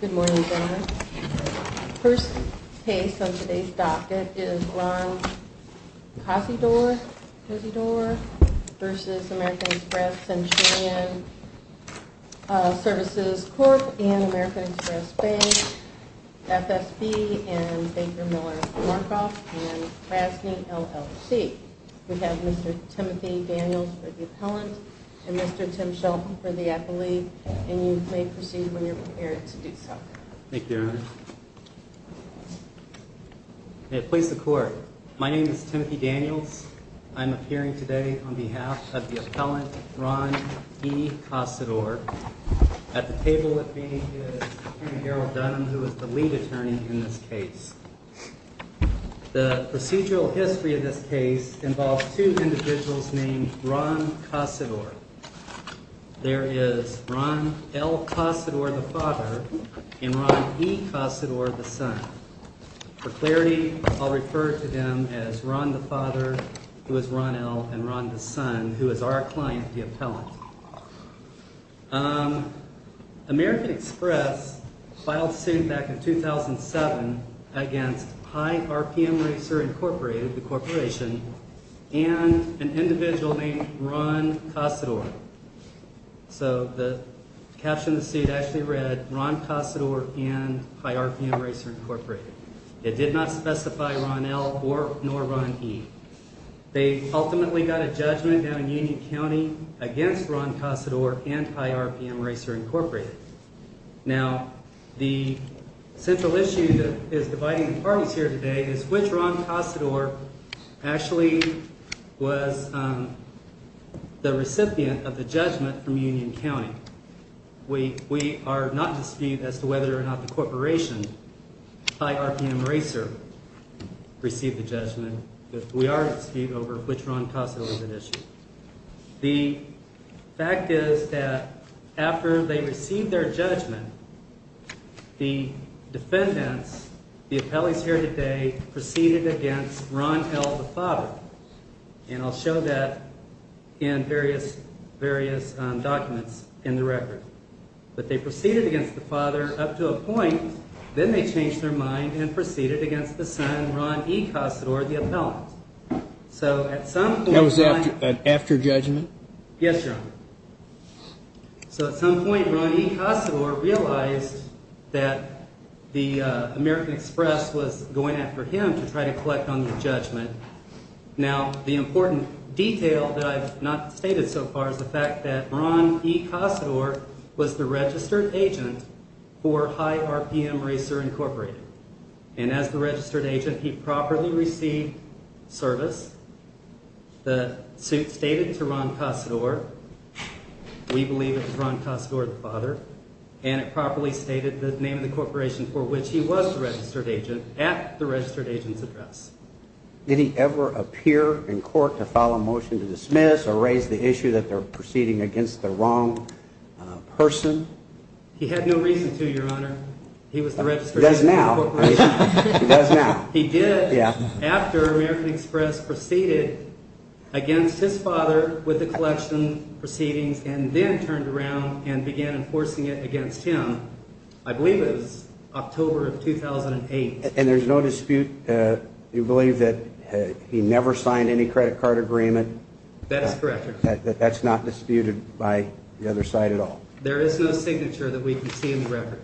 Good morning, gentlemen. First case on today's docket is Ron Cosydor v. American Express Centurion Services Corp. and American Express Bank, FSB, and Baker Miller Markoff, and Krasny LLC. We have Mr. Timothy Daniels for the appellant and Mr. Tim Shelton for the appellee. And you may proceed when you're prepared to do so. Thank you, Your Honor. May it please the Court, my name is Timothy Daniels. I'm appearing today on behalf of the appellant, Ron E. Cosydor. At the table with me is Attorney Harold Dunham, who is the lead attorney in this case. The procedural history of this case involves two individuals named Ron Cosydor. There is Ron L. Cosydor, the father, and Ron E. Cosydor, the son. For clarity, I'll refer to them as Ron the father, who is Ron L., and Ron the son, who is our client, the appellant. American Express filed suit back in 2007 against High RPM Racer Incorporated, the corporation, and an individual named Ron Cosydor. So the caption of the suit actually read, Ron Cosydor and High RPM Racer Incorporated. It did not specify Ron L. nor Ron E. They ultimately got a judgment down in Union County against Ron Cosydor and High RPM Racer Incorporated. Now, the central issue that is dividing the parties here today is which Ron Cosydor actually was the recipient of the judgment from Union County. We are not in dispute as to whether or not the corporation, High RPM Racer, received the judgment. We are in dispute over which Ron Cosydor was at issue. The fact is that after they received their judgment, the defendants, the appellees here today, proceeded against Ron L., the father. And I'll show that in various documents in the record. But they proceeded against the father up to a point. Then they changed their mind and proceeded against the son, Ron E. Cosydor, the appellant. Yes, Your Honor. So at some point, Ron E. Cosydor realized that the American Express was going after him to try to collect on the judgment. Now, the important detail that I've not stated so far is the fact that Ron E. Cosydor was the registered agent for High RPM Racer Incorporated. And as the registered agent, he properly received service. The suit stated to Ron Cosydor, we believe it was Ron Cosydor, the father. And it properly stated the name of the corporation for which he was the registered agent at the registered agent's address. Did he ever appear in court to file a motion to dismiss or raise the issue that they're proceeding against the wrong person? He had no reason to, Your Honor. He was the registered agent for the corporation. He does now. He does now. He did after American Express proceeded against his father with the collection proceedings and then turned around and began enforcing it against him. I believe it was October of 2008. And there's no dispute? You believe that he never signed any credit card agreement? That is correct, Your Honor. That's not disputed by the other side at all? There is no signature that we can see in the record.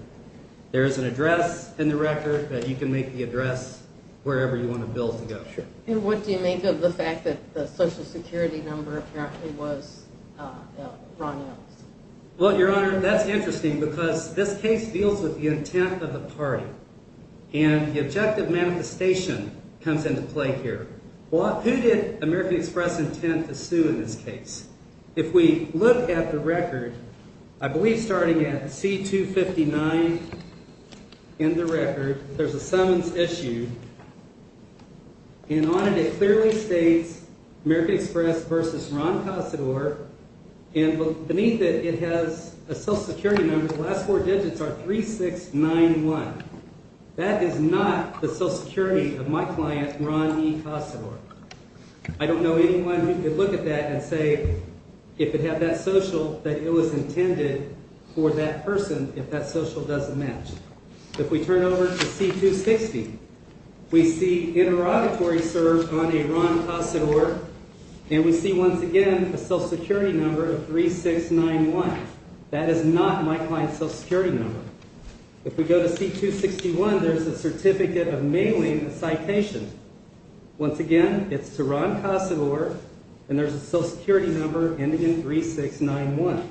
There is an address in the record that you can make the address wherever you want a bill to go. And what do you make of the fact that the Social Security number apparently was Ron Ellis? Well, Your Honor, that's interesting because this case deals with the intent of the party. And the objective manifestation comes into play here. Who did American Express intend to sue in this case? If we look at the record, I believe starting at C259 in the record, there's a summons issue. And on it, it clearly states American Express versus Ron Cossador. And beneath it, it has a Social Security number. The last four digits are 3691. That is not the Social Security of my client, Ron E. Cossador. I don't know anyone who could look at that and say if it had that Social that it was intended for that person if that Social doesn't match. If we turn over to C260, we see interrogatory served on a Ron Cossador. And we see once again a Social Security number of 3691. That is not my client's Social Security number. If we go to C261, there's a certificate of mailing a citation. Once again, it's to Ron Cossador. And there's a Social Security number ending in 3691.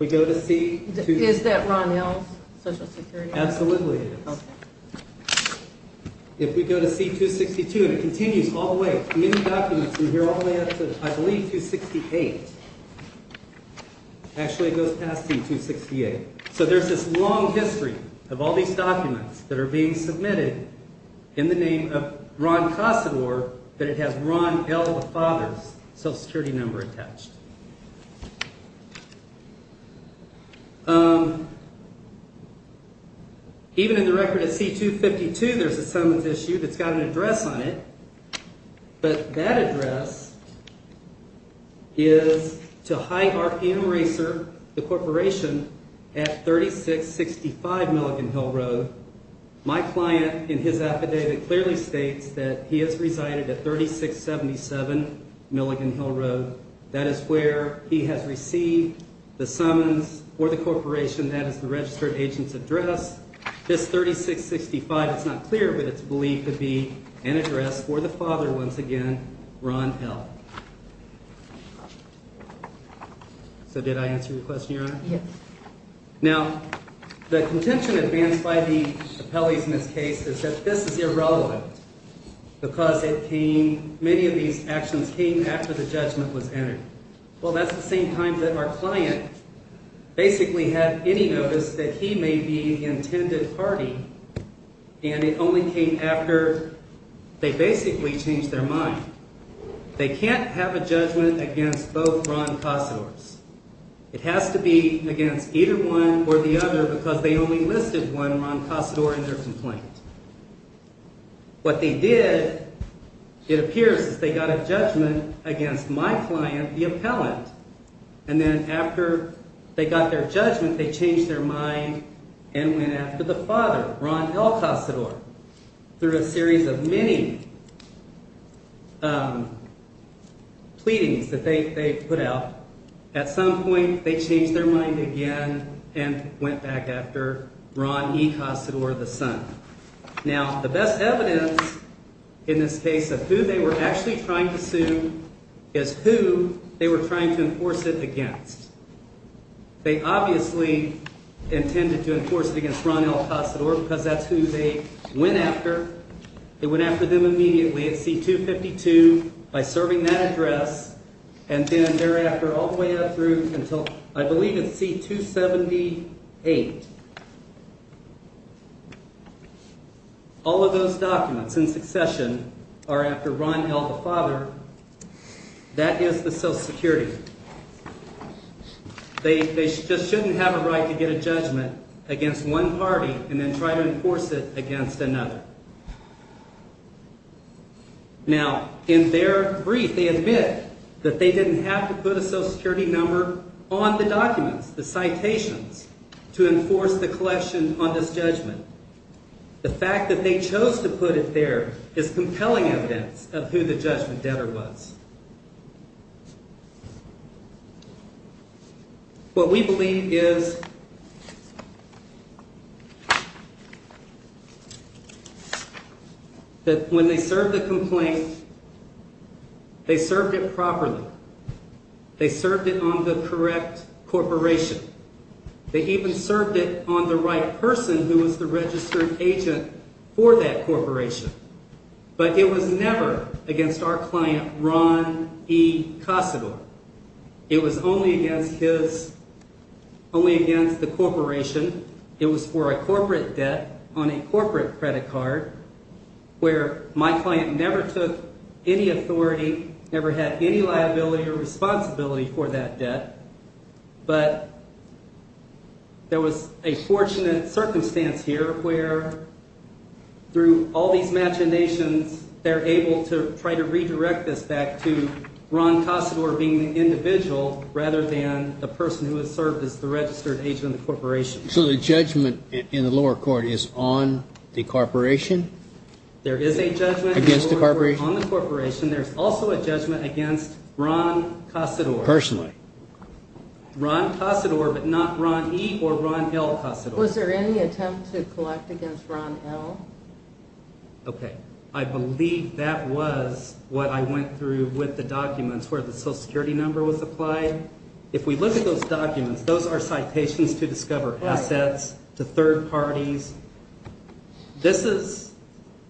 We go to C- Is that Ron L.'s Social Security number? Absolutely. Okay. If we go to C262, and it continues all the way. In the documents, we hear all the way up to, I believe, 268. Actually, it goes past C268. Okay. So there's this long history of all these documents that are being submitted in the name of Ron Cossador that it has Ron L. the father's Social Security number attached. Even in the record at C252, there's a summons issue that's got an address on it. But that address is to Hyde RPM Racer, the corporation, at 3665 Milligan Hill Road. My client, in his affidavit, clearly states that he has resided at 3677 Milligan Hill Road. That is where he has received the summons for the corporation. That is the registered agent's address. This 3665, it's not clear, but it's believed to be an address for the father, once again, Ron L. So did I answer your question, Your Honor? Yes. Now, the contention advanced by the appellees in this case is that this is irrelevant. Because it came, many of these actions came after the judgment was entered. Well, that's the same time that our client basically had any notice that he may be intended party. And it only came after they basically changed their mind. They can't have a judgment against both Ron Cossadors. It has to be against either one or the other because they only listed one Ron Cossador in their complaint. What they did, it appears, is they got a judgment against my client, the appellant. And then after they got their judgment, they changed their mind and went after the father, Ron L. Cossador. Through a series of many pleadings that they put out, at some point they changed their mind again and went back after Ron E. Cossador, the son. Now, the best evidence in this case of who they were actually trying to sue is who they were trying to enforce it against. They obviously intended to enforce it against Ron L. Cossador because that's who they went after. They went after them immediately at C-252 by serving that address. And then thereafter, all the way up through until I believe it's C-278. All of those documents in succession are after Ron L. the father. That is the Social Security. They just shouldn't have a right to get a judgment against one party and then try to enforce it against another. Now, in their brief, they admit that they didn't have to put a Social Security number on the documents, the citations, to enforce the collection on this judgment. The fact that they chose to put it there is compelling evidence of who the judgment debtor was. What we believe is that when they served the complaint, they served it properly. They served it on the correct corporation. They even served it on the right person who was the registered agent for that corporation. But it was never against our client, Ron E. Cossador. It was only against the corporation. It was for a corporate debt on a corporate credit card where my client never took any authority, never had any liability or responsibility for that debt. But there was a fortunate circumstance here where, through all these machinations, they're able to try to redirect this back to Ron Cossador being the individual rather than the person who has served as the registered agent of the corporation. So the judgment in the lower court is on the corporation? There is a judgment in the lower court on the corporation. There's also a judgment against Ron Cossador. Ron Cossador, but not Ron E. or Ron L. Cossador. Was there any attempt to collect against Ron L.? Okay. I believe that was what I went through with the documents where the Social Security number was applied. If we look at those documents, those are citations to discover assets to third parties. This is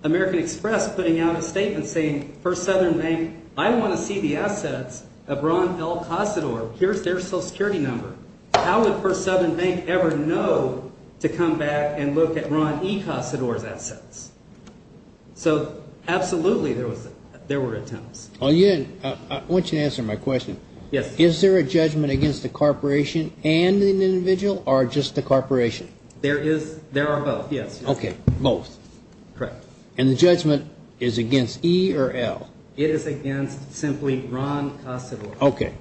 American Express putting out a statement saying, First Southern Bank, I want to see the assets of Ron L. Cossador. Here's their Social Security number. How would First Southern Bank ever know to come back and look at Ron E. Cossador's assets? So absolutely there were attempts. I want you to answer my question. Yes. Is there a judgment against the corporation and an individual or just the corporation? There are both, yes. Okay. Both. Correct. And the judgment is against E. or L.? It is against simply Ron Cossador. Okay.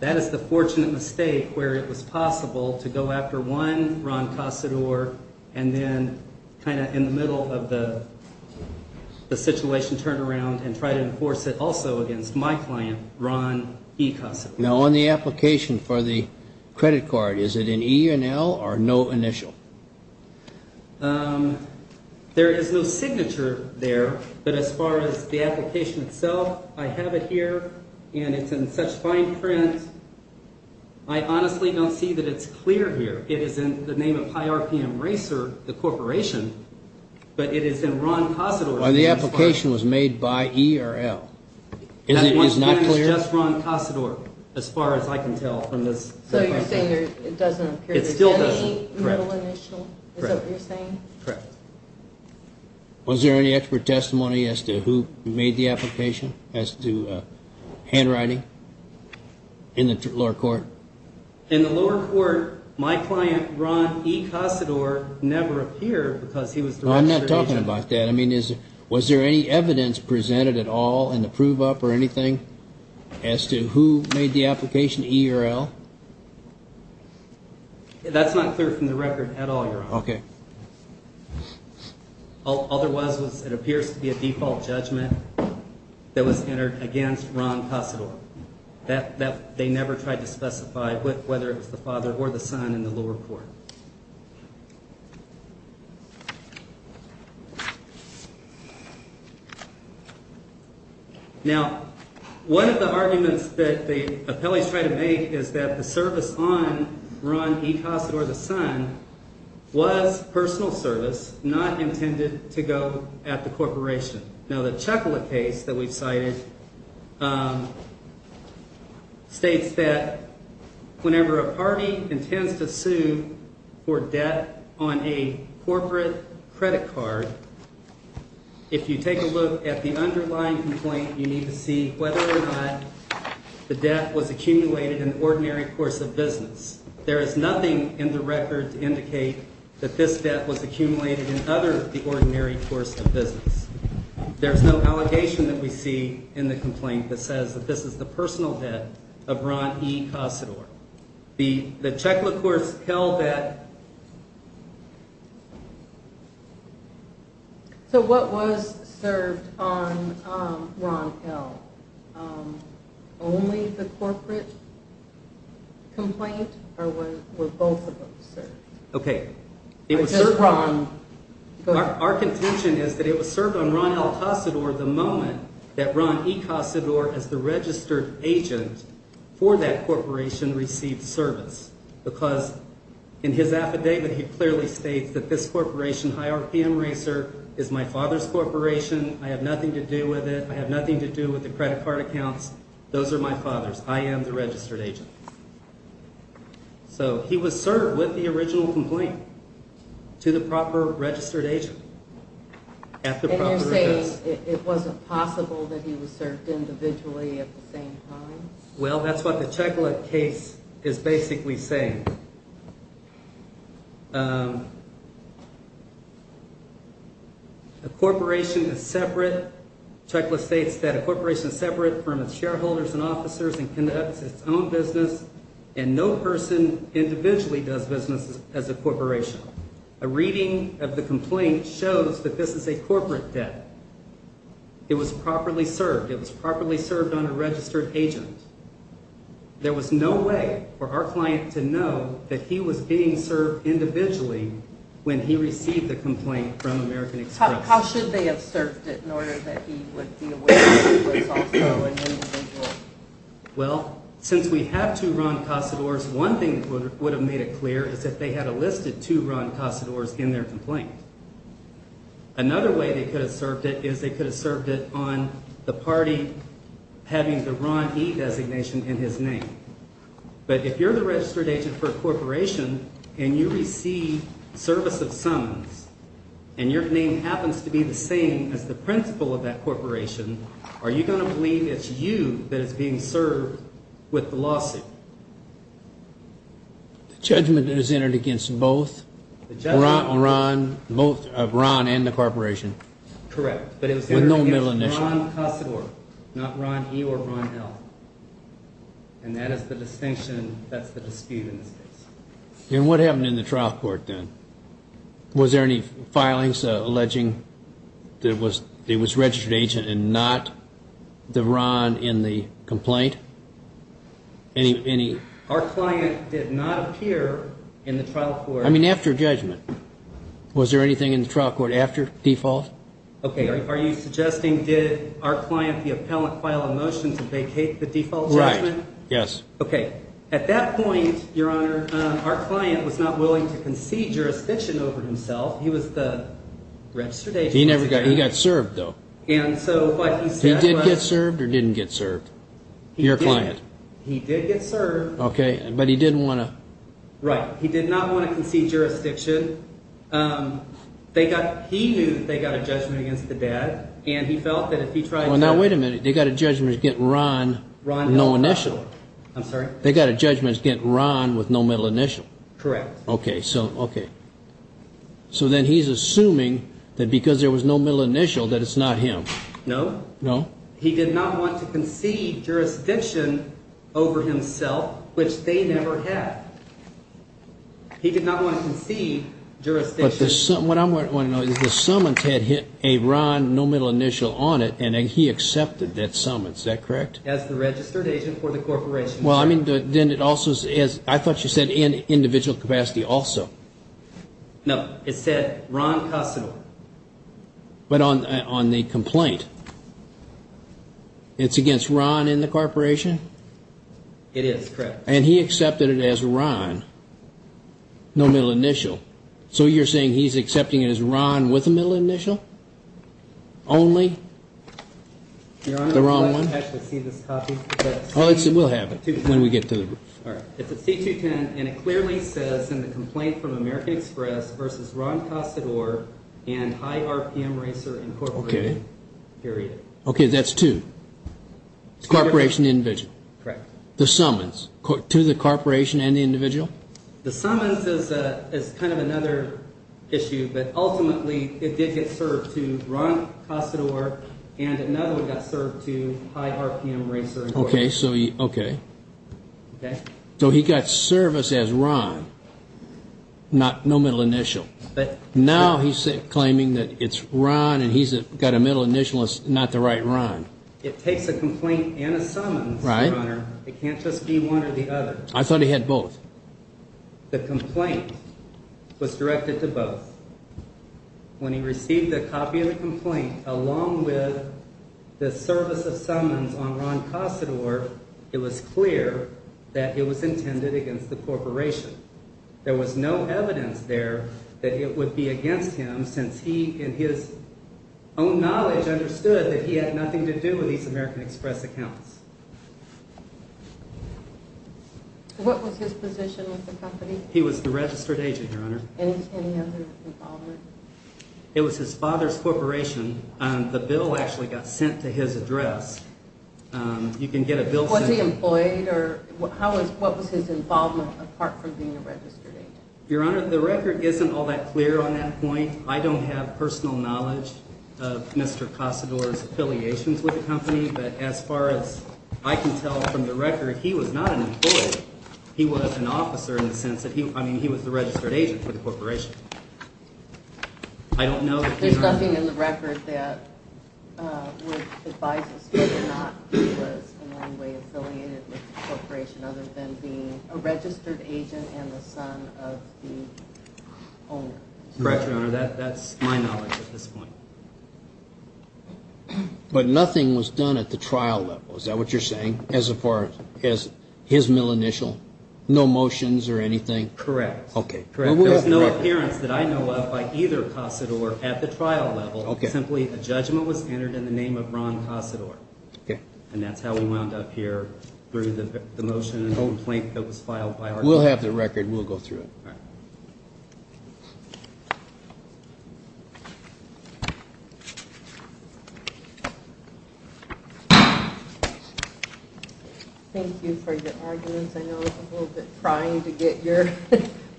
That is the fortunate mistake where it was possible to go after one, Ron Cossador, and then kind of in the middle of the situation turn around and try to enforce it also against my client, Ron E. Cossador. Now on the application for the credit card, is it in E. or L. or no initial? There is no signature there, but as far as the application itself, I have it here, and it's in such fine print, I honestly don't see that it's clear here. It is in the name of High RPM Racer, the corporation, but it is in Ron Cossador's name. Well, the application was made by E. or L. My client is just Ron Cossador as far as I can tell from this. So you're saying it doesn't appear to be any middle initial? Correct. Is that what you're saying? Correct. Was there any expert testimony as to who made the application as to handwriting in the lower court? In the lower court, my client, Ron E. Cossador, never appeared because he was the registered agent. Was there any evidence presented at all in the prove up or anything as to who made the application, E. or L.? That's not clear from the record at all, Your Honor. Okay. All there was was it appears to be a default judgment that was entered against Ron Cossador. They never tried to specify whether it was the father or the son in the lower court. Now, one of the arguments that the appellees try to make is that the service on Ron E. Cossador, the son, was personal service, not intended to go at the corporation. Now, the Chucklett case that we've cited states that whenever a party intends to sue for debt on a corporate credit card, if you take a look at the underlying complaint, you need to see whether or not the debt was accumulated in ordinary course of business. There is nothing in the record to indicate that this debt was accumulated in other than the ordinary course of business. There's no allegation that we see in the complaint that says that this is the personal debt of Ron E. Cossador. The Chucklett Course Hell debt. So what was served on Ron L.? Only the corporate complaint or were both of them served? Okay. Our contention is that it was served on Ron L. Cossador the moment that Ron E. Cossador, as the registered agent for that corporation, received service. Because in his affidavit, he clearly states that this corporation, High RPM Racer, is my father's corporation. I have nothing to do with it. I have nothing to do with the credit card accounts. Those are my father's. I am the registered agent. So he was served with the original complaint to the proper registered agent at the proper address. And you're saying it wasn't possible that he was served individually at the same time? Well, that's what the Chucklett case is basically saying. A corporation is separate. Chucklett states that a corporation is separate from its shareholders and officers and conducts its own business. And no person individually does business as a corporation. A reading of the complaint shows that this is a corporate debt. It was properly served. It was properly served on a registered agent. There was no way for our client to know that he was being served individually when he received the complaint from American Express. How should they have served it in order that he would be aware that he was also an individual? Well, since we have two Ron Cossadors, one thing that would have made it clear is that they had enlisted two Ron Cossadors in their complaint. Another way they could have served it is they could have served it on the party having the Ron E designation in his name. But if you're the registered agent for a corporation and you receive service of summons and your name happens to be the same as the principal of that corporation, are you going to believe it's you that is being served with the lawsuit? The judgment is entered against both Ron and the corporation? Correct. With no middle initial? Ron Cossador, not Ron E or Ron L. And that is the distinction, that's the dispute in this case. And what happened in the trial court then? Was there any filings alleging that it was registered agent and not the Ron in the complaint? Our client did not appear in the trial court. I mean after judgment. Was there anything in the trial court after default? Are you suggesting did our client, the appellant, file a motion to vacate the default judgment? Right, yes. Okay. At that point, Your Honor, our client was not willing to concede jurisdiction over himself. He was the registered agent. He got served, though. He did get served or didn't get served? Your client. He did get served. Okay, but he didn't want to. Right, he did not want to concede jurisdiction. He knew that they got a judgment against the dad, and he felt that if he tried to. Now wait a minute, they got a judgment against Ron with no initial. I'm sorry? They got a judgment against Ron with no middle initial. Correct. Okay, so then he's assuming that because there was no middle initial that it's not him. No. No? He did not want to concede jurisdiction over himself, which they never had. He did not want to concede jurisdiction. But what I want to know is the summons had a Ron no middle initial on it, and he accepted that summons. Is that correct? As the registered agent for the corporation. Well, I mean, then it also is, I thought you said in individual capacity also. No, it said Ron Custodial. But on the complaint. It's against Ron in the corporation. It is correct. And he accepted it as Ron. No middle initial. So you're saying he's accepting it as Ron with a middle initial. Only. The wrong one. I actually see this copy. Oh, it will happen when we get to the. All right. And it clearly says in the complaint from American Express versus Ron Custodial and high R.P.M. Racer Incorporated. Period. Okay. That's two. It's a corporation. Individual. Correct. The summons to the corporation and the individual. The summons is kind of another issue. But ultimately, it did get served to Ron Custodial and another one got served to high R.P.M. Racer. Okay. So, okay. Okay. So, he got service as Ron. Not no middle initial. But. Now, he's claiming that it's Ron and he's got a middle initial. It's not the right Ron. It takes a complaint and a summons. Right. It can't just be one or the other. I thought he had both. The complaint was directed to both. When he received the copy of the complaint, along with the service of summons on Ron Custodial, it was clear that it was intended against the corporation. There was no evidence there that it would be against him since he, in his own knowledge, understood that he had nothing to do with these American Express accounts. What was his position with the company? Any other involvement? It was his father's corporation. The bill actually got sent to his address. You can get a bill sent. Was he employed? What was his involvement apart from being a registered agent? Your Honor, the record isn't all that clear on that point. I don't have personal knowledge of Mr. Custodial's affiliations with the company. But as far as I can tell from the record, he was not an employee. He was an officer in the sense that he was the registered agent for the corporation. There's nothing in the record that would advise us whether or not he was in any way affiliated with the corporation other than being a registered agent and the son of the owner. Correct, Your Honor. That's my knowledge at this point. But nothing was done at the trial level. Is that what you're saying as far as his mill initial? No motions or anything? Correct. Okay. There's no appearance that I know of by either Custodial at the trial level. Okay. Simply a judgment was entered in the name of Ron Custodial. Okay. And that's how we wound up here through the motion and the whole plink that was filed by our client. We'll have the record. We'll go through it. All right. Thank you for your arguments. I know it's a little bit trying to get your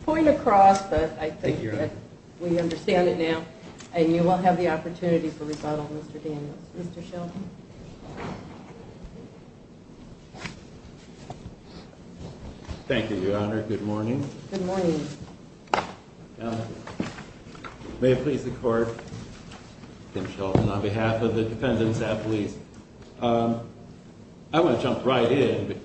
point across, but I think that we understand it now. And you will have the opportunity for rebuttal, Mr. Daniels. Mr. Shelton. Thank you, Your Honor. Good morning. Good morning. May it please the Court, Kim Shelton, on behalf of the defendants at least. I want to jump right in.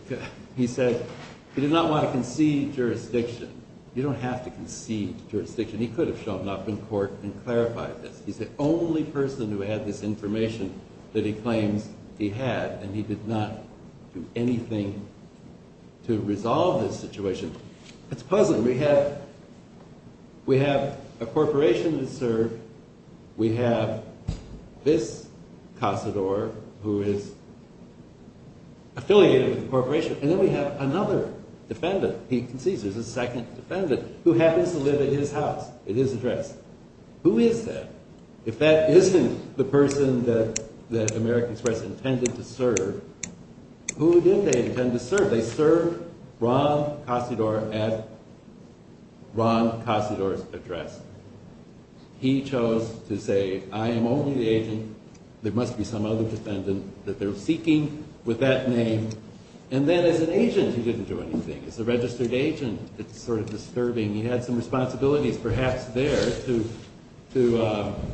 He said he did not want to concede jurisdiction. You don't have to concede jurisdiction. He could have shown up in court and clarified this. He's the only person who had this information that he claims he had. And he did not do anything to resolve this situation. It's puzzling. We have a corporation to serve. We have this Casador who is affiliated with the corporation. And then we have another defendant. He concedes. There's a second defendant who happens to live at his house, at his address. Who is that? If that isn't the person that American Express intended to serve, who did they intend to serve? They served Ron Casador at Ron Casador's address. He chose to say, I am only the agent. There must be some other defendant that they're seeking with that name. And then as an agent, he didn't do anything. As a registered agent, it's sort of disturbing. He had some responsibilities perhaps there to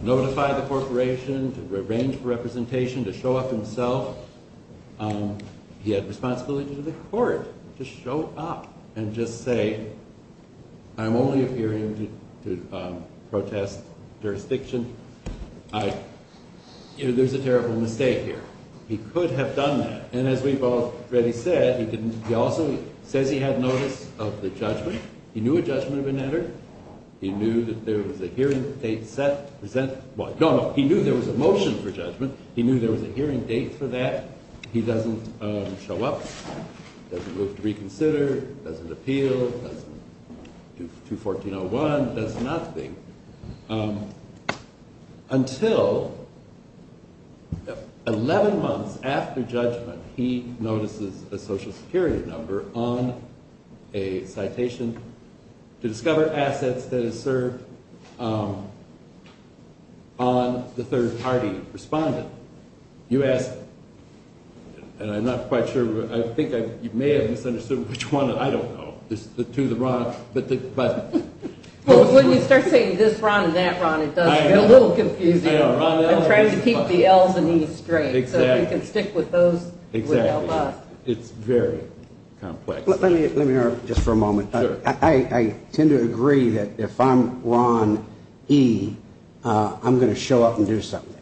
notify the corporation, to arrange for representation, to show up himself. He had responsibilities to the court, to show up and just say, I'm only appearing to protest jurisdiction. There's a terrible mistake here. He could have done that. And as we've already said, he also says he had notice of the judgment. He knew a judgment had been entered. He knew that there was a hearing date set to present. No, no. He knew there was a motion for judgment. He knew there was a hearing date for that. He doesn't show up, doesn't move to reconsider, doesn't appeal, doesn't do 214.01, does nothing. Until 11 months after judgment, he notices a Social Security number on a citation to discover assets that is served on the third party respondent. You asked, and I'm not quite sure, I think you may have misunderstood which one. I don't know. Well, when you start saying this Ron and that Ron, it does get a little confusing. I'm trying to keep the Ls and Es straight so we can stick with those. Exactly. It's very complex. Let me interrupt just for a moment. I tend to agree that if I'm Ron E., I'm going to show up and do something.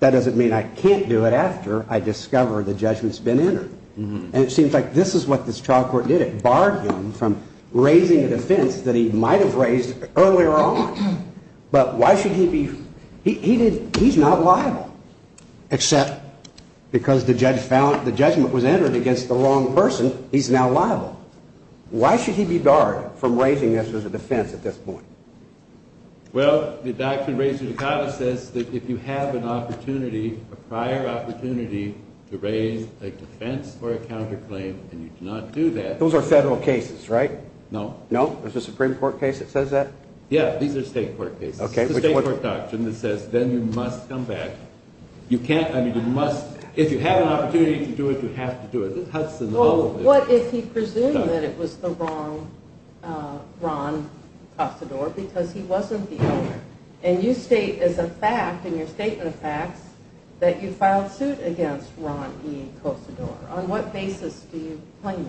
That doesn't mean I can't do it after I discover the judgment's been entered. And it seems like this is what this trial court did. It barred him from raising a defense that he might have raised earlier on. But why should he be? He's not liable. Except because the judgment was entered against the wrong person, he's now liable. Why should he be barred from raising this as a defense at this point? Well, the Doctrine Raising the Codice says that if you have an opportunity, a prior opportunity to raise a defense or a counterclaim and you do not do that. Those are federal cases, right? No. No? There's a Supreme Court case that says that? Yeah, these are state court cases. It's a state court doctrine that says then you must come back. You can't, I mean, you must. If you have an opportunity to do it, you have to do it. Well, what if he presumed that it was the wrong Ron Cosador because he wasn't the owner? And you state as a fact in your statement of facts that you filed suit against Ron E. Cosador. On what basis do you claim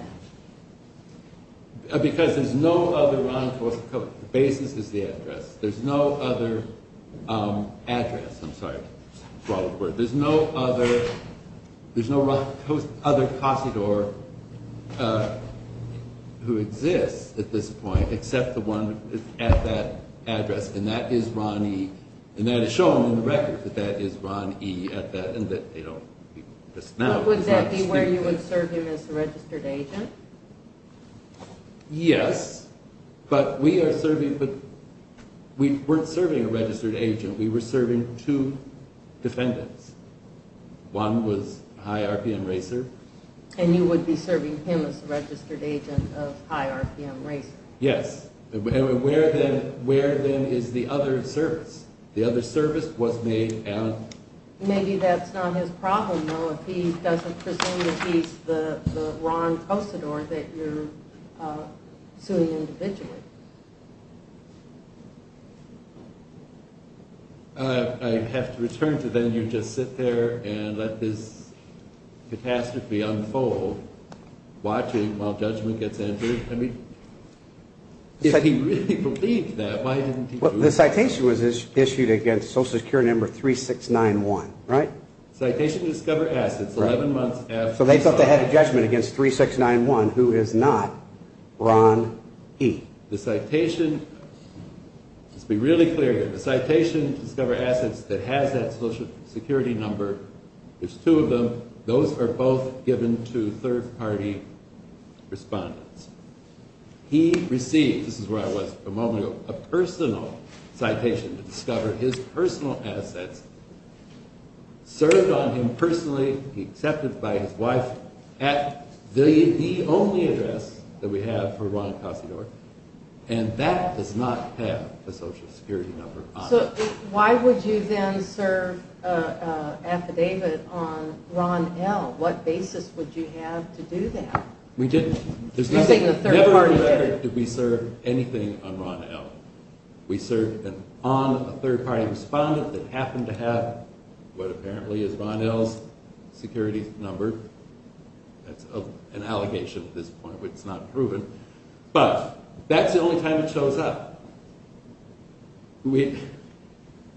that? Because there's no other Ron Cosador. The basis is the address. There's no other address. I'm sorry. There's no other Cosador who exists at this point except the one at that address, and that is Ron E., and that is shown in the record that that is Ron E. at that, and that they don't exist now. Would that be where you would serve him as a registered agent? Yes, but we are serving, but we weren't serving a registered agent. We were serving two defendants. One was a high RPM racer. And you would be serving him as a registered agent of a high RPM racer. Yes. Where, then, is the other service? The other service was made out. Maybe that's not his problem, though, if he doesn't presume that he's the Ron Cosador that you're suing individually. I have to return to, then, you just sit there and let this catastrophe unfold, watching while judgment gets entered. I mean, if he really believed that, why didn't he do it? Well, the citation was issued against Social Security Number 3691, right? Citation to Discover Assets, 11 months after. So they thought they had a judgment against 3691, who is not Ron E. The citation, let's be really clear here. The citation to discover assets that has that Social Security Number, there's two of them. Those are both given to third-party respondents. He received, this is where I was a moment ago, a personal citation to discover his personal assets, served on him personally. He accepted it by his wife at the only address that we have for Ron Cosador. And that does not have the Social Security Number on it. So why would you then serve an affidavit on Ron L.? What basis would you have to do that? We didn't. I'm saying the third party did. Never on record did we serve anything on Ron L. We served on a third-party respondent that happened to have what apparently is Ron L.'s security number. That's an allegation at this point, but it's not proven. But that's the only time it shows up. We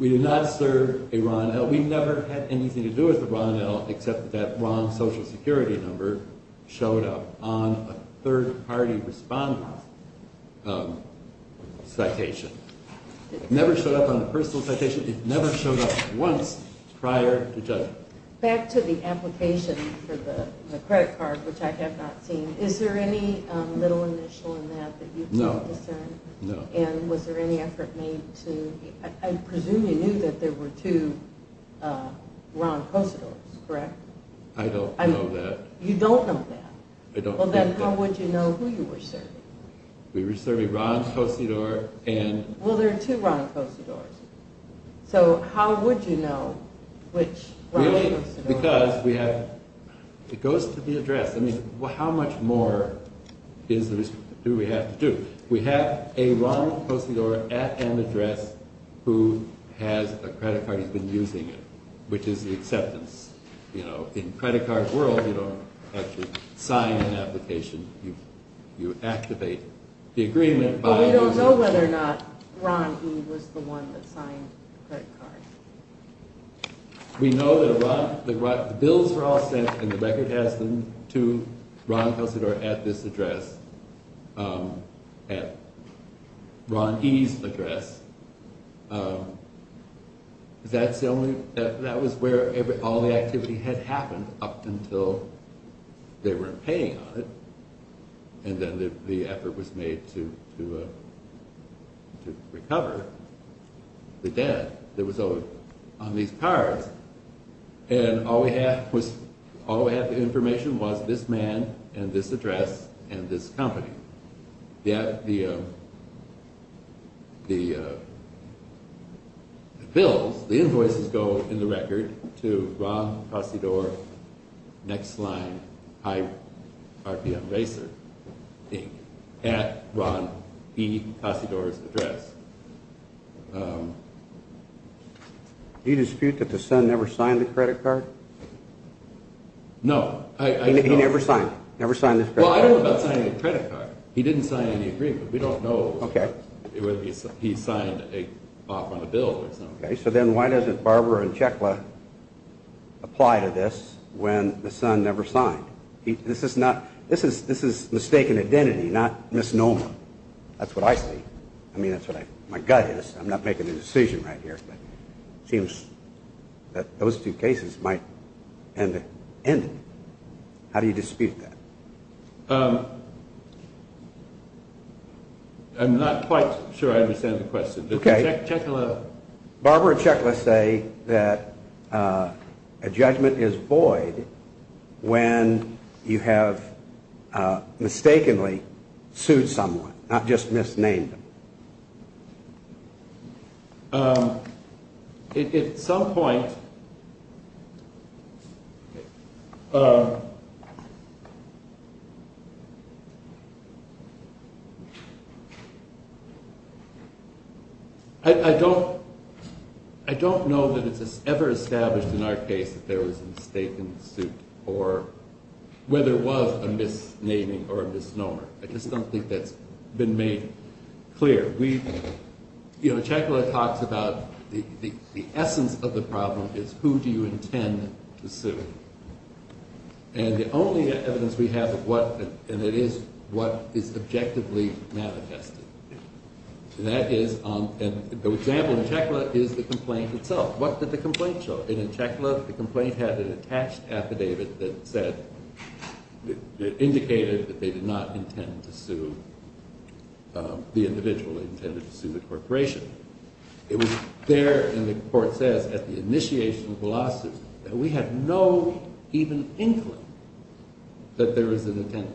did not serve a Ron L. We've never had anything to do with a Ron L. except that that wrong Social Security Number showed up on a third-party respondent citation. It never showed up on a personal citation. It never showed up once prior to judgment. Back to the application for the credit card, which I have not seen. Is there any little initial in that that you can discern? No. And was there any effort made to... I presume you knew that there were two Ron Cosadors, correct? I don't know that. You don't know that? I don't know that. Well, then how would you know who you were serving? We were serving Ron Cosador and... Well, there are two Ron Cosadors. So how would you know which Ron Cosador? It goes to the address. How much more do we have to do? We have a Ron Cosador at an address who has a credit card. He's been using it, which is the acceptance. In the credit card world, you don't actually sign an application. You activate the agreement by... But we don't know whether or not Ron, he was the one that signed the credit card. We know that the bills were all sent, and the record has them, to Ron Cosador at this address, at Ron E.'s address. That was where all the activity had happened up until they weren't paying on it. And then the effort was made to recover the debt. That was owed on these cards. And all we had was... All we had the information was this man, and this address, and this company. The bills, the invoices, go in the record to Ron Cosador, Next Line, High RPM Racer, Inc., at Ron E. Cosador's address. Do you dispute that the son never signed the credit card? No. He never signed it? Well, I don't know about signing a credit card. He didn't sign any agreement. We don't know whether he signed off on a bill or something. Okay, so then why doesn't Barbara and Chekla apply to this when the son never signed? This is mistaken identity, not misnomer. That's what I think. I mean, that's what my gut is. I'm not making a decision right here, but it seems that those two cases might end it. How do you dispute that? I'm not quite sure I understand the question. Okay. Barbara and Chekla say that a judgment is void when you have mistakenly sued someone, not just misnamed them. At some point, I don't know that it's ever established in our case that there was a mistake in the suit or whether it was a misnaming or a misnomer. I just don't think that's been made clear. You know, Chekla talks about the essence of the problem is who do you intend to sue? And the only evidence we have of what, and it is what is objectively manifested. That is, and the example in Chekla is the complaint itself. What did the complaint show? In Chekla, the complaint had an attached affidavit that said, it indicated that they did not intend to sue the individual. They intended to sue the corporation. It was there, and the court says at the initiation of the lawsuit, that we have no even inkling that there is an intent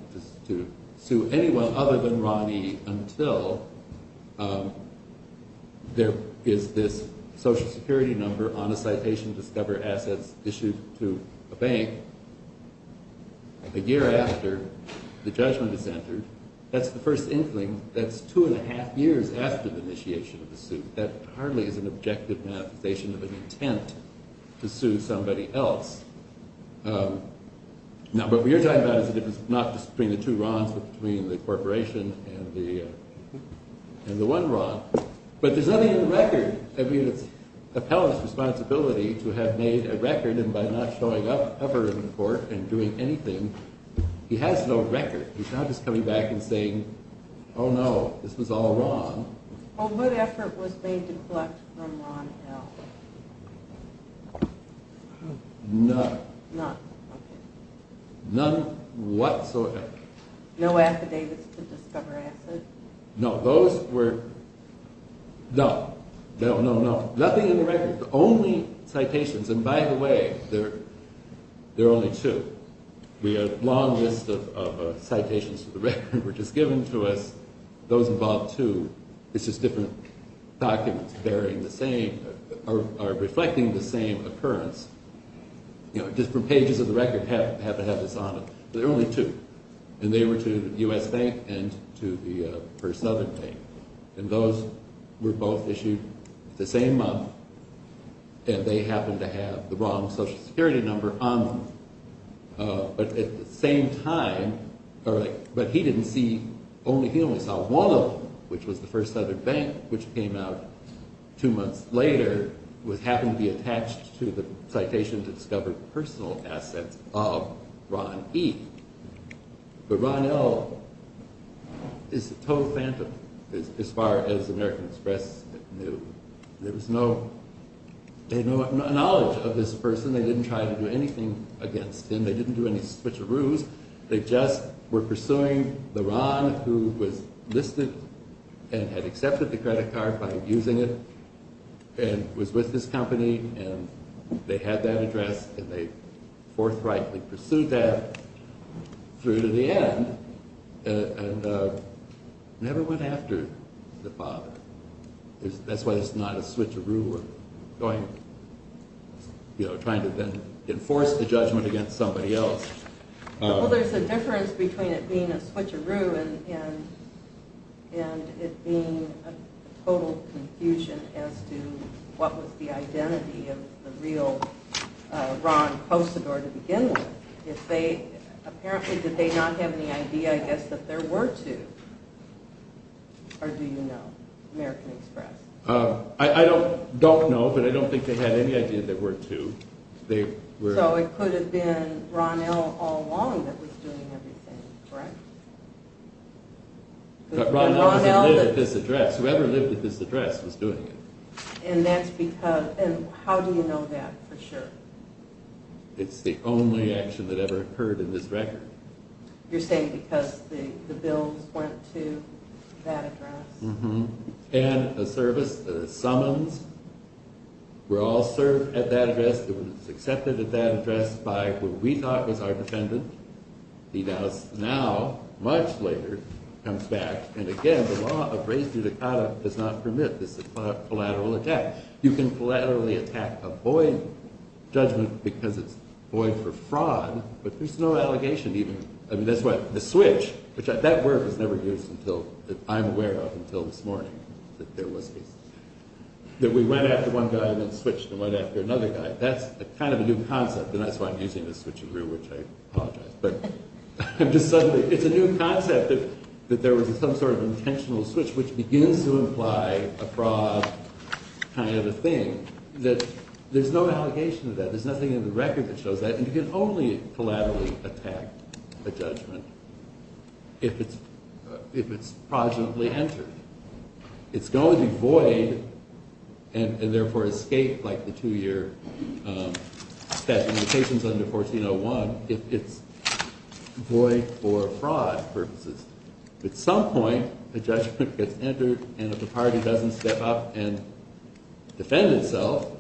to sue anyone other than Ronnie until there is this social security number on a citation to discover assets issued to a bank a year after the judgment is entered. That's the first inkling. That's two and a half years after the initiation of the suit. That hardly is an objective manifestation of an intent to sue somebody else. Now, what we are talking about is the difference, not just between the two RONs, but between the corporation and the one RON. But there's nothing in the record. It's the appellant's responsibility to have made a record, and by not showing up ever in court and doing anything, he has no record. He's not just coming back and saying, oh no, this was all RON. What effort was made to collect from RON, Al? None. None, okay. None whatsoever. No affidavits to discover assets? No, those were, no. No, no, no. Nothing in the record. The only citations, and by the way, there are only two. We have a long list of citations to the record which is given to us. Those involve two. It's just different documents bearing the same, or reflecting the same occurrence. You know, different pages of the record have to have this on them. There are only two. And they were to the U.S. Bank and to the First Southern Bank. And those were both issued the same month, and they happened to have the wrong Social Security number on them. But at the same time, but he didn't see, he only saw one of them, which was the First Southern Bank, which came out two months later, which happened to be attached to the citation to discover personal assets of RON E. But RON L. is a total phantom as far as the American Express knew. There was no, they had no knowledge of this person. They didn't try to do anything against him. They didn't do any switcheroos. They just were pursuing the RON who was listed and had accepted the credit card by abusing it and was with his company. And they had that address, and they forthrightly pursued that through to the end and never went after the father. That's why it's not a switcheroo or going, you know, trying to then enforce the judgment against somebody else. Well, there's a difference between it being a switcheroo and it being a total confusion as to what was the identity of the real RON close the door to begin with. Apparently, did they not have any idea, I guess, that there were two? Or do you know, American Express? I don't know, but I don't think they had any idea there were two. So it could have been RON L. all along that was doing everything, correct? But RON L. lived at this address. Whoever lived at this address was doing it. And that's because, and how do you know that for sure? It's the only action that ever occurred in this record. You're saying because the bills went to that address? And a service, a summons were all served at that address. It was accepted at that address by what we thought was our defendant. He does now, much later, comes back. And again, the law of res judicata does not permit this collateral attack. You can collaterally attack a void judgment because it's void for fraud, but there's no allegation even. I mean, that's why the switch, which that word was never used until, that I'm aware of until this morning, that there was this, that we went after one guy and then switched and went after another guy. That's kind of a new concept, and that's why I'm using this switch of rule, which I apologize. But I'm just suddenly, it's a new concept that there was some sort of intentional switch, which begins to imply a fraud kind of a thing, that there's no allegation of that. There's nothing in the record that shows that. And you can only collaterally attack a judgment if it's progenitally entered. It's going to be void and, therefore, escape like the two-year that limitations under 1401 if it's void for fraud purposes. At some point, a judgment gets entered, and if the party doesn't step up and defend itself,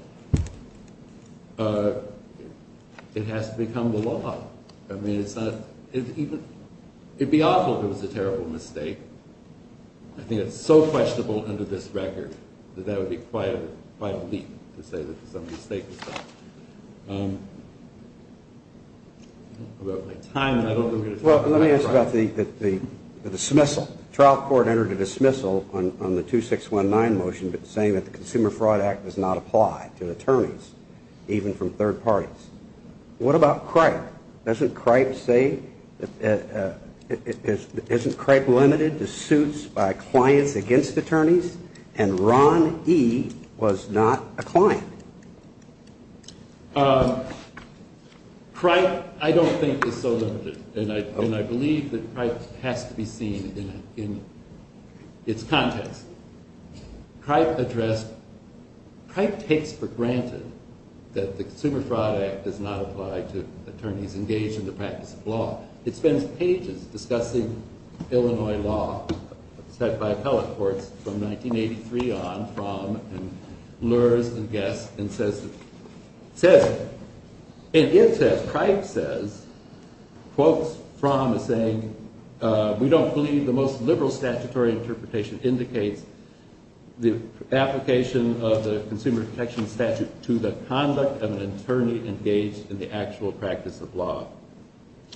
it has to become the law. I mean, it's not, it'd be awful if it was a terrible mistake. I think it's so questionable under this record that that would be quite a leap to say that some mistake was done. About my time, I don't think I'm going to talk about it. Well, let me ask about the dismissal. The trial court entered a dismissal on the 2619 motion saying that the Consumer Fraud Act does not apply to attorneys, even from third parties. What about CRIPE? Doesn't CRIPE say, isn't CRIPE limited to suits by clients against attorneys? And Ron E. was not a client. CRIPE, I don't think, is so limited, and I believe that CRIPE has to be seen in its context. CRIPE addressed, CRIPE takes for granted that the Consumer Fraud Act does not apply to attorneys engaged in the practice of law. It spends pages discussing Illinois law set by appellate courts from 1983 on, and blurs and guesses and says, and it says, CRIPE says, quotes from a saying, we don't believe the most liberal statutory interpretation indicates the application of the consumer protection statute to the conduct of an attorney engaged in the actual practice of law.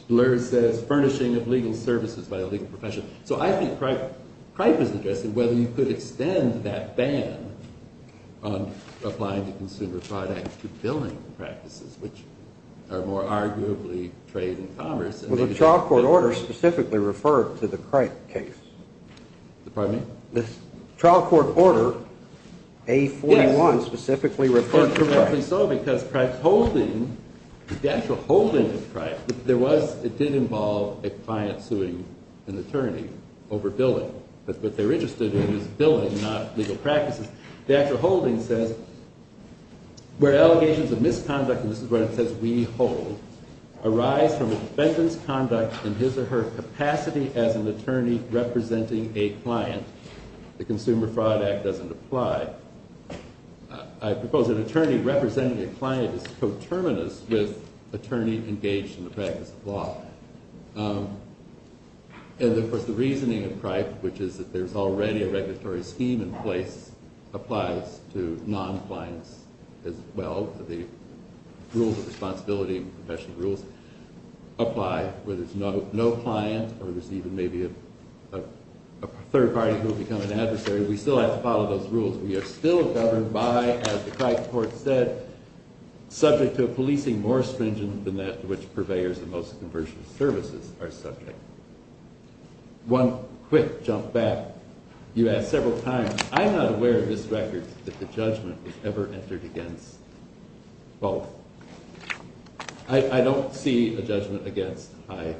Blurs says furnishing of legal services by a legal profession. So I think CRIPE is addressing whether you could extend that ban on applying the Consumer Fraud Act to billing practices, which are more arguably trade and commerce. The trial court order specifically referred to the CRIPE case. Pardon me? The trial court order, A41, specifically referred to CRIPE. Correctly so, because CRIPE's holding, the actual holding of CRIPE, there was, it did involve a client suing an attorney over billing. But what they're interested in is billing, not legal practices. The actual holding says, where allegations of misconduct, and this is where it says we hold, arise from a defendant's conduct in his or her capacity as an attorney representing a client, the Consumer Fraud Act doesn't apply. I propose an attorney representing a client is coterminous with attorney engaged in the practice of law. And, of course, the reasoning of CRIPE, which is that there's already a regulatory scheme in place, applies to non-clients as well. The rules of responsibility and professional rules apply. Whether there's no client or there's even maybe a third party who will become an adversary, we still have to follow those rules. We are still governed by, as the CRIPE court said, subject to a policing more stringent than that to which purveyors of most commercial services are subject. One quick jump back. You asked several times. I'm not aware of this record that the judgment was ever entered against both. I don't see a judgment against High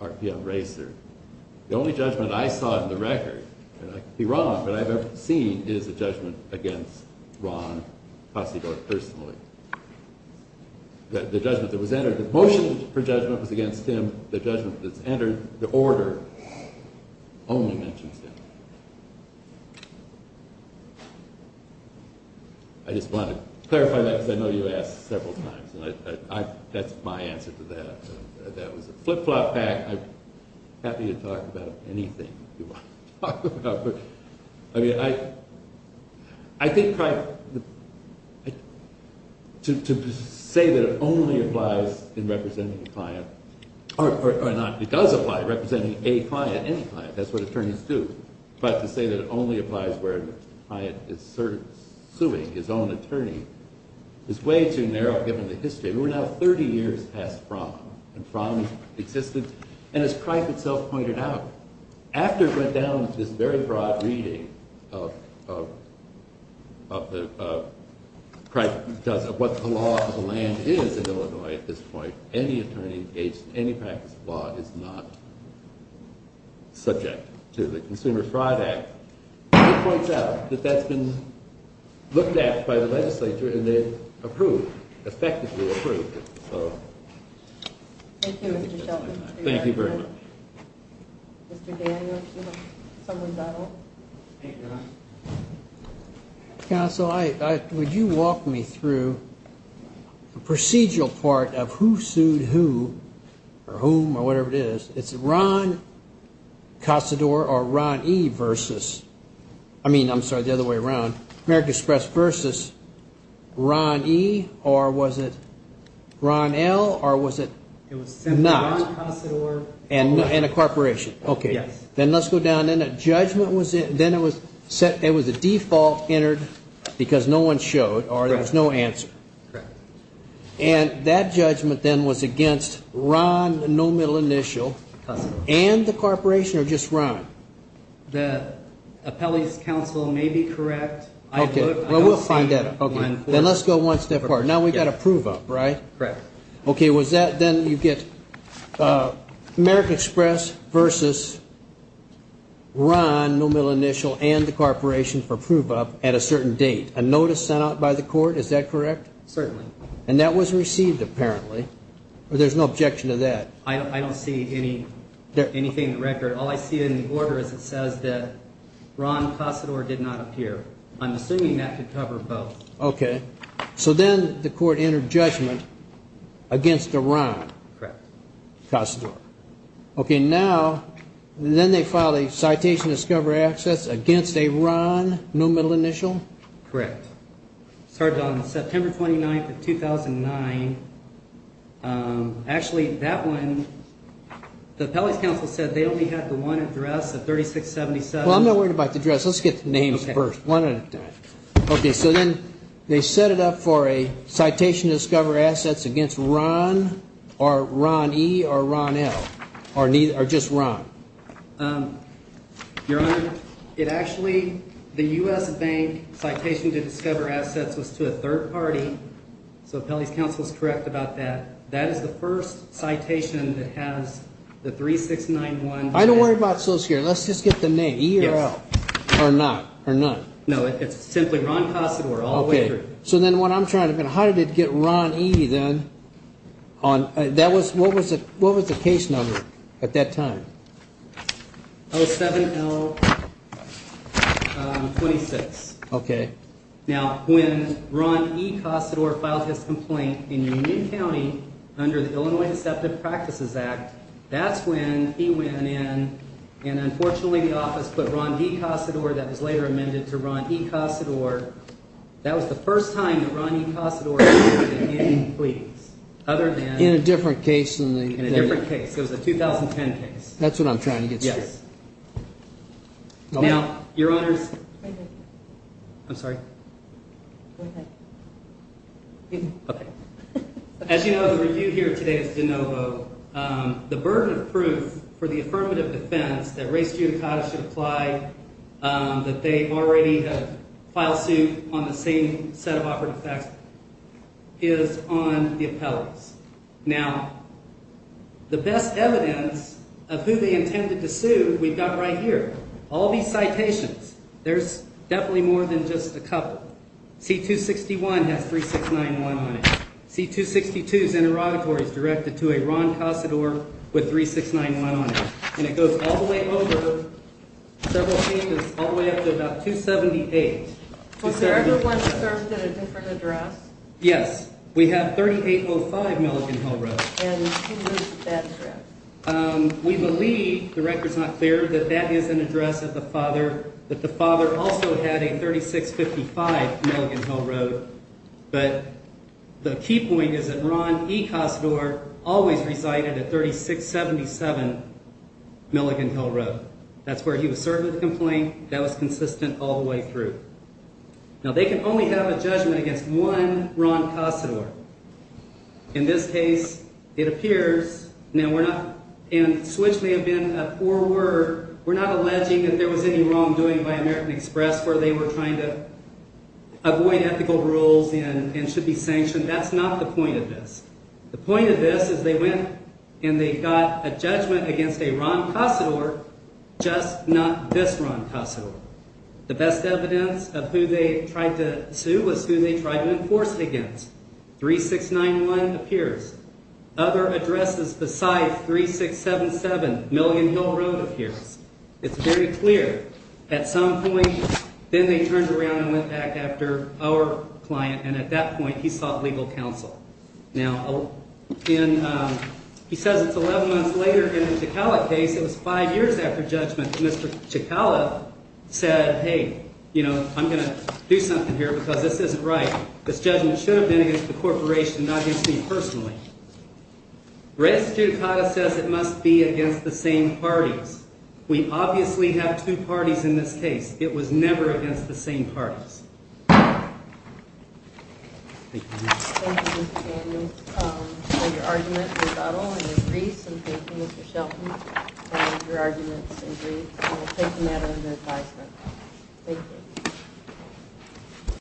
RPM Racer. The only judgment I saw in the record, and I could be wrong, but I've never seen, is a judgment against Ron Passivort personally. The judgment that was entered, the motion for judgment was against him. The judgment that's entered, the order, only mentions him. I just want to clarify that because I know you asked several times. That's my answer to that. That was a flip-flop act. I'm happy to talk about anything you want to talk about. I mean, I think CRIPE, to say that it only applies in representing a client, or not, it does apply representing a client, any client. That's what attorneys do. But to say that it only applies where a client is suing his own attorney is way too narrow, given the history. We're now 30 years past Fromm and Fromm's existence. And as CRIPE itself pointed out, after it went down to this very broad reading of what the law of the land is in Illinois at this point, any attorney engaged in any practice of law is not subject to the Consumer Fraud Act. It points out that that's been looked at by the legislature, and they've approved, effectively approved it. Thank you, Mr. Shelton. Thank you very much. Mr. Daniels, someone's at home. Counsel, would you walk me through the procedural part of who sued who, or whom, or whatever it is? It's Ron Casador or Ron E. versus, I mean, I'm sorry, the other way around, American Express versus Ron E., or was it Ron L., or was it not? It was simply Ron Casador. And a corporation. Okay. Yes. Then let's go down. Then it was a default entered because no one showed, or there was no answer. Correct. And that judgment then was against Ron, no middle initial, and the corporation, or just Ron? The appellee's counsel may be correct. Okay. Well, we'll find out. Okay. Then let's go one step apart. Now we've got a prove-up, right? Correct. Okay. Was that then you get American Express versus Ron, no middle initial, and the corporation for prove-up at a certain date, a notice sent out by the court? Is that correct? Certainly. And that was received, apparently. There's no objection to that. I don't see anything in the record. All I see in the order is it says that Ron Casador did not appear. I'm assuming that could cover both. Okay. So then the court entered judgment against a Ron. Correct. Casador. Okay. Now, then they filed a citation of discovery access against a Ron, no middle initial? Correct. It started on September 29th of 2009. Actually, that one, the appellate counsel said they only had the one address, the 3677. Well, I'm not worried about the address. Let's get the names first. Okay. One at a time. Okay. So then they set it up for a citation to discover assets against Ron or Ron E. or Ron L. Or just Ron. Your Honor, it actually, the U.S. Bank citation to discover assets was to a third party. So appellate counsel is correct about that. That is the first citation that has the 3691. I don't worry about those here. Let's just get the name. E or L. Yes. Or not. Or not. No, it's simply Ron Casador all the way through. Okay. So then what I'm trying to, how did it get Ron E then? That was, what was the case number at that time? 07L26. Okay. Now, when Ron E. Casador filed his complaint in Union County under the Illinois Deceptive Practices Act, that's when he went in and unfortunately the office put Ron D. Casador, that was later amended to Ron E. Casador. That was the first time that Ron E. Casador appeared in any pleadings other than. In a different case than the. In a different case. It was a 2010 case. That's what I'm trying to get to. Yes. Now, Your Honors. I'm sorry. Go ahead. Okay. As you know, the review here today is de novo. The burden of proof for the affirmative defense that race judicata should apply, that they already have filed suit on the same set of operative facts, is on the appellants. Now, the best evidence of who they intended to sue, we've got right here. All these citations. There's definitely more than just a couple. C-261 has 3691 on it. C-262's interrogatory is directed to a Ron Casador with 3691 on it. And it goes all the way over several pages, all the way up to about 278. Was there ever one that served at a different address? Yes. We have 3805 Milligan Hill Road. And who moved that address? We believe, the record's not clear, that that is an address that the father also had a 3655 Milligan Hill Road. But the key point is that Ron E. Casador always resided at 3677 Milligan Hill Road. That's where he was served with the complaint. That was consistent all the way through. Now, they can only have a judgment against one Ron Casador. In this case, it appears, now we're not, and switch may have been a poor word, we're not alleging that there was any wrongdoing by American Express where they were trying to avoid ethical rules and should be sanctioned. That's not the point of this. The point of this is they went and they got a judgment against a Ron Casador, just not this Ron Casador. The best evidence of who they tried to sue was who they tried to enforce it against. 3691 appears. Other addresses besides 3677 Milligan Hill Road appears. It's very clear. At some point, then they turned around and went back after our client, and at that point, he sought legal counsel. Now, he says it's 11 months later in the Chicala case. It was five years after judgment. Mr. Chicala said, hey, you know, I'm going to do something here because this isn't right. This judgment should have been against the corporation, not against me personally. Res judicata says it must be against the same parties. We obviously have two parties in this case. It was never against the same parties. Thank you. Thank you, Mr. Daniels, for your argument, rebuttal, and your briefs. And thank you, Mr. Shelton, for your arguments and briefs. And we'll take them out under advisement. Thank you.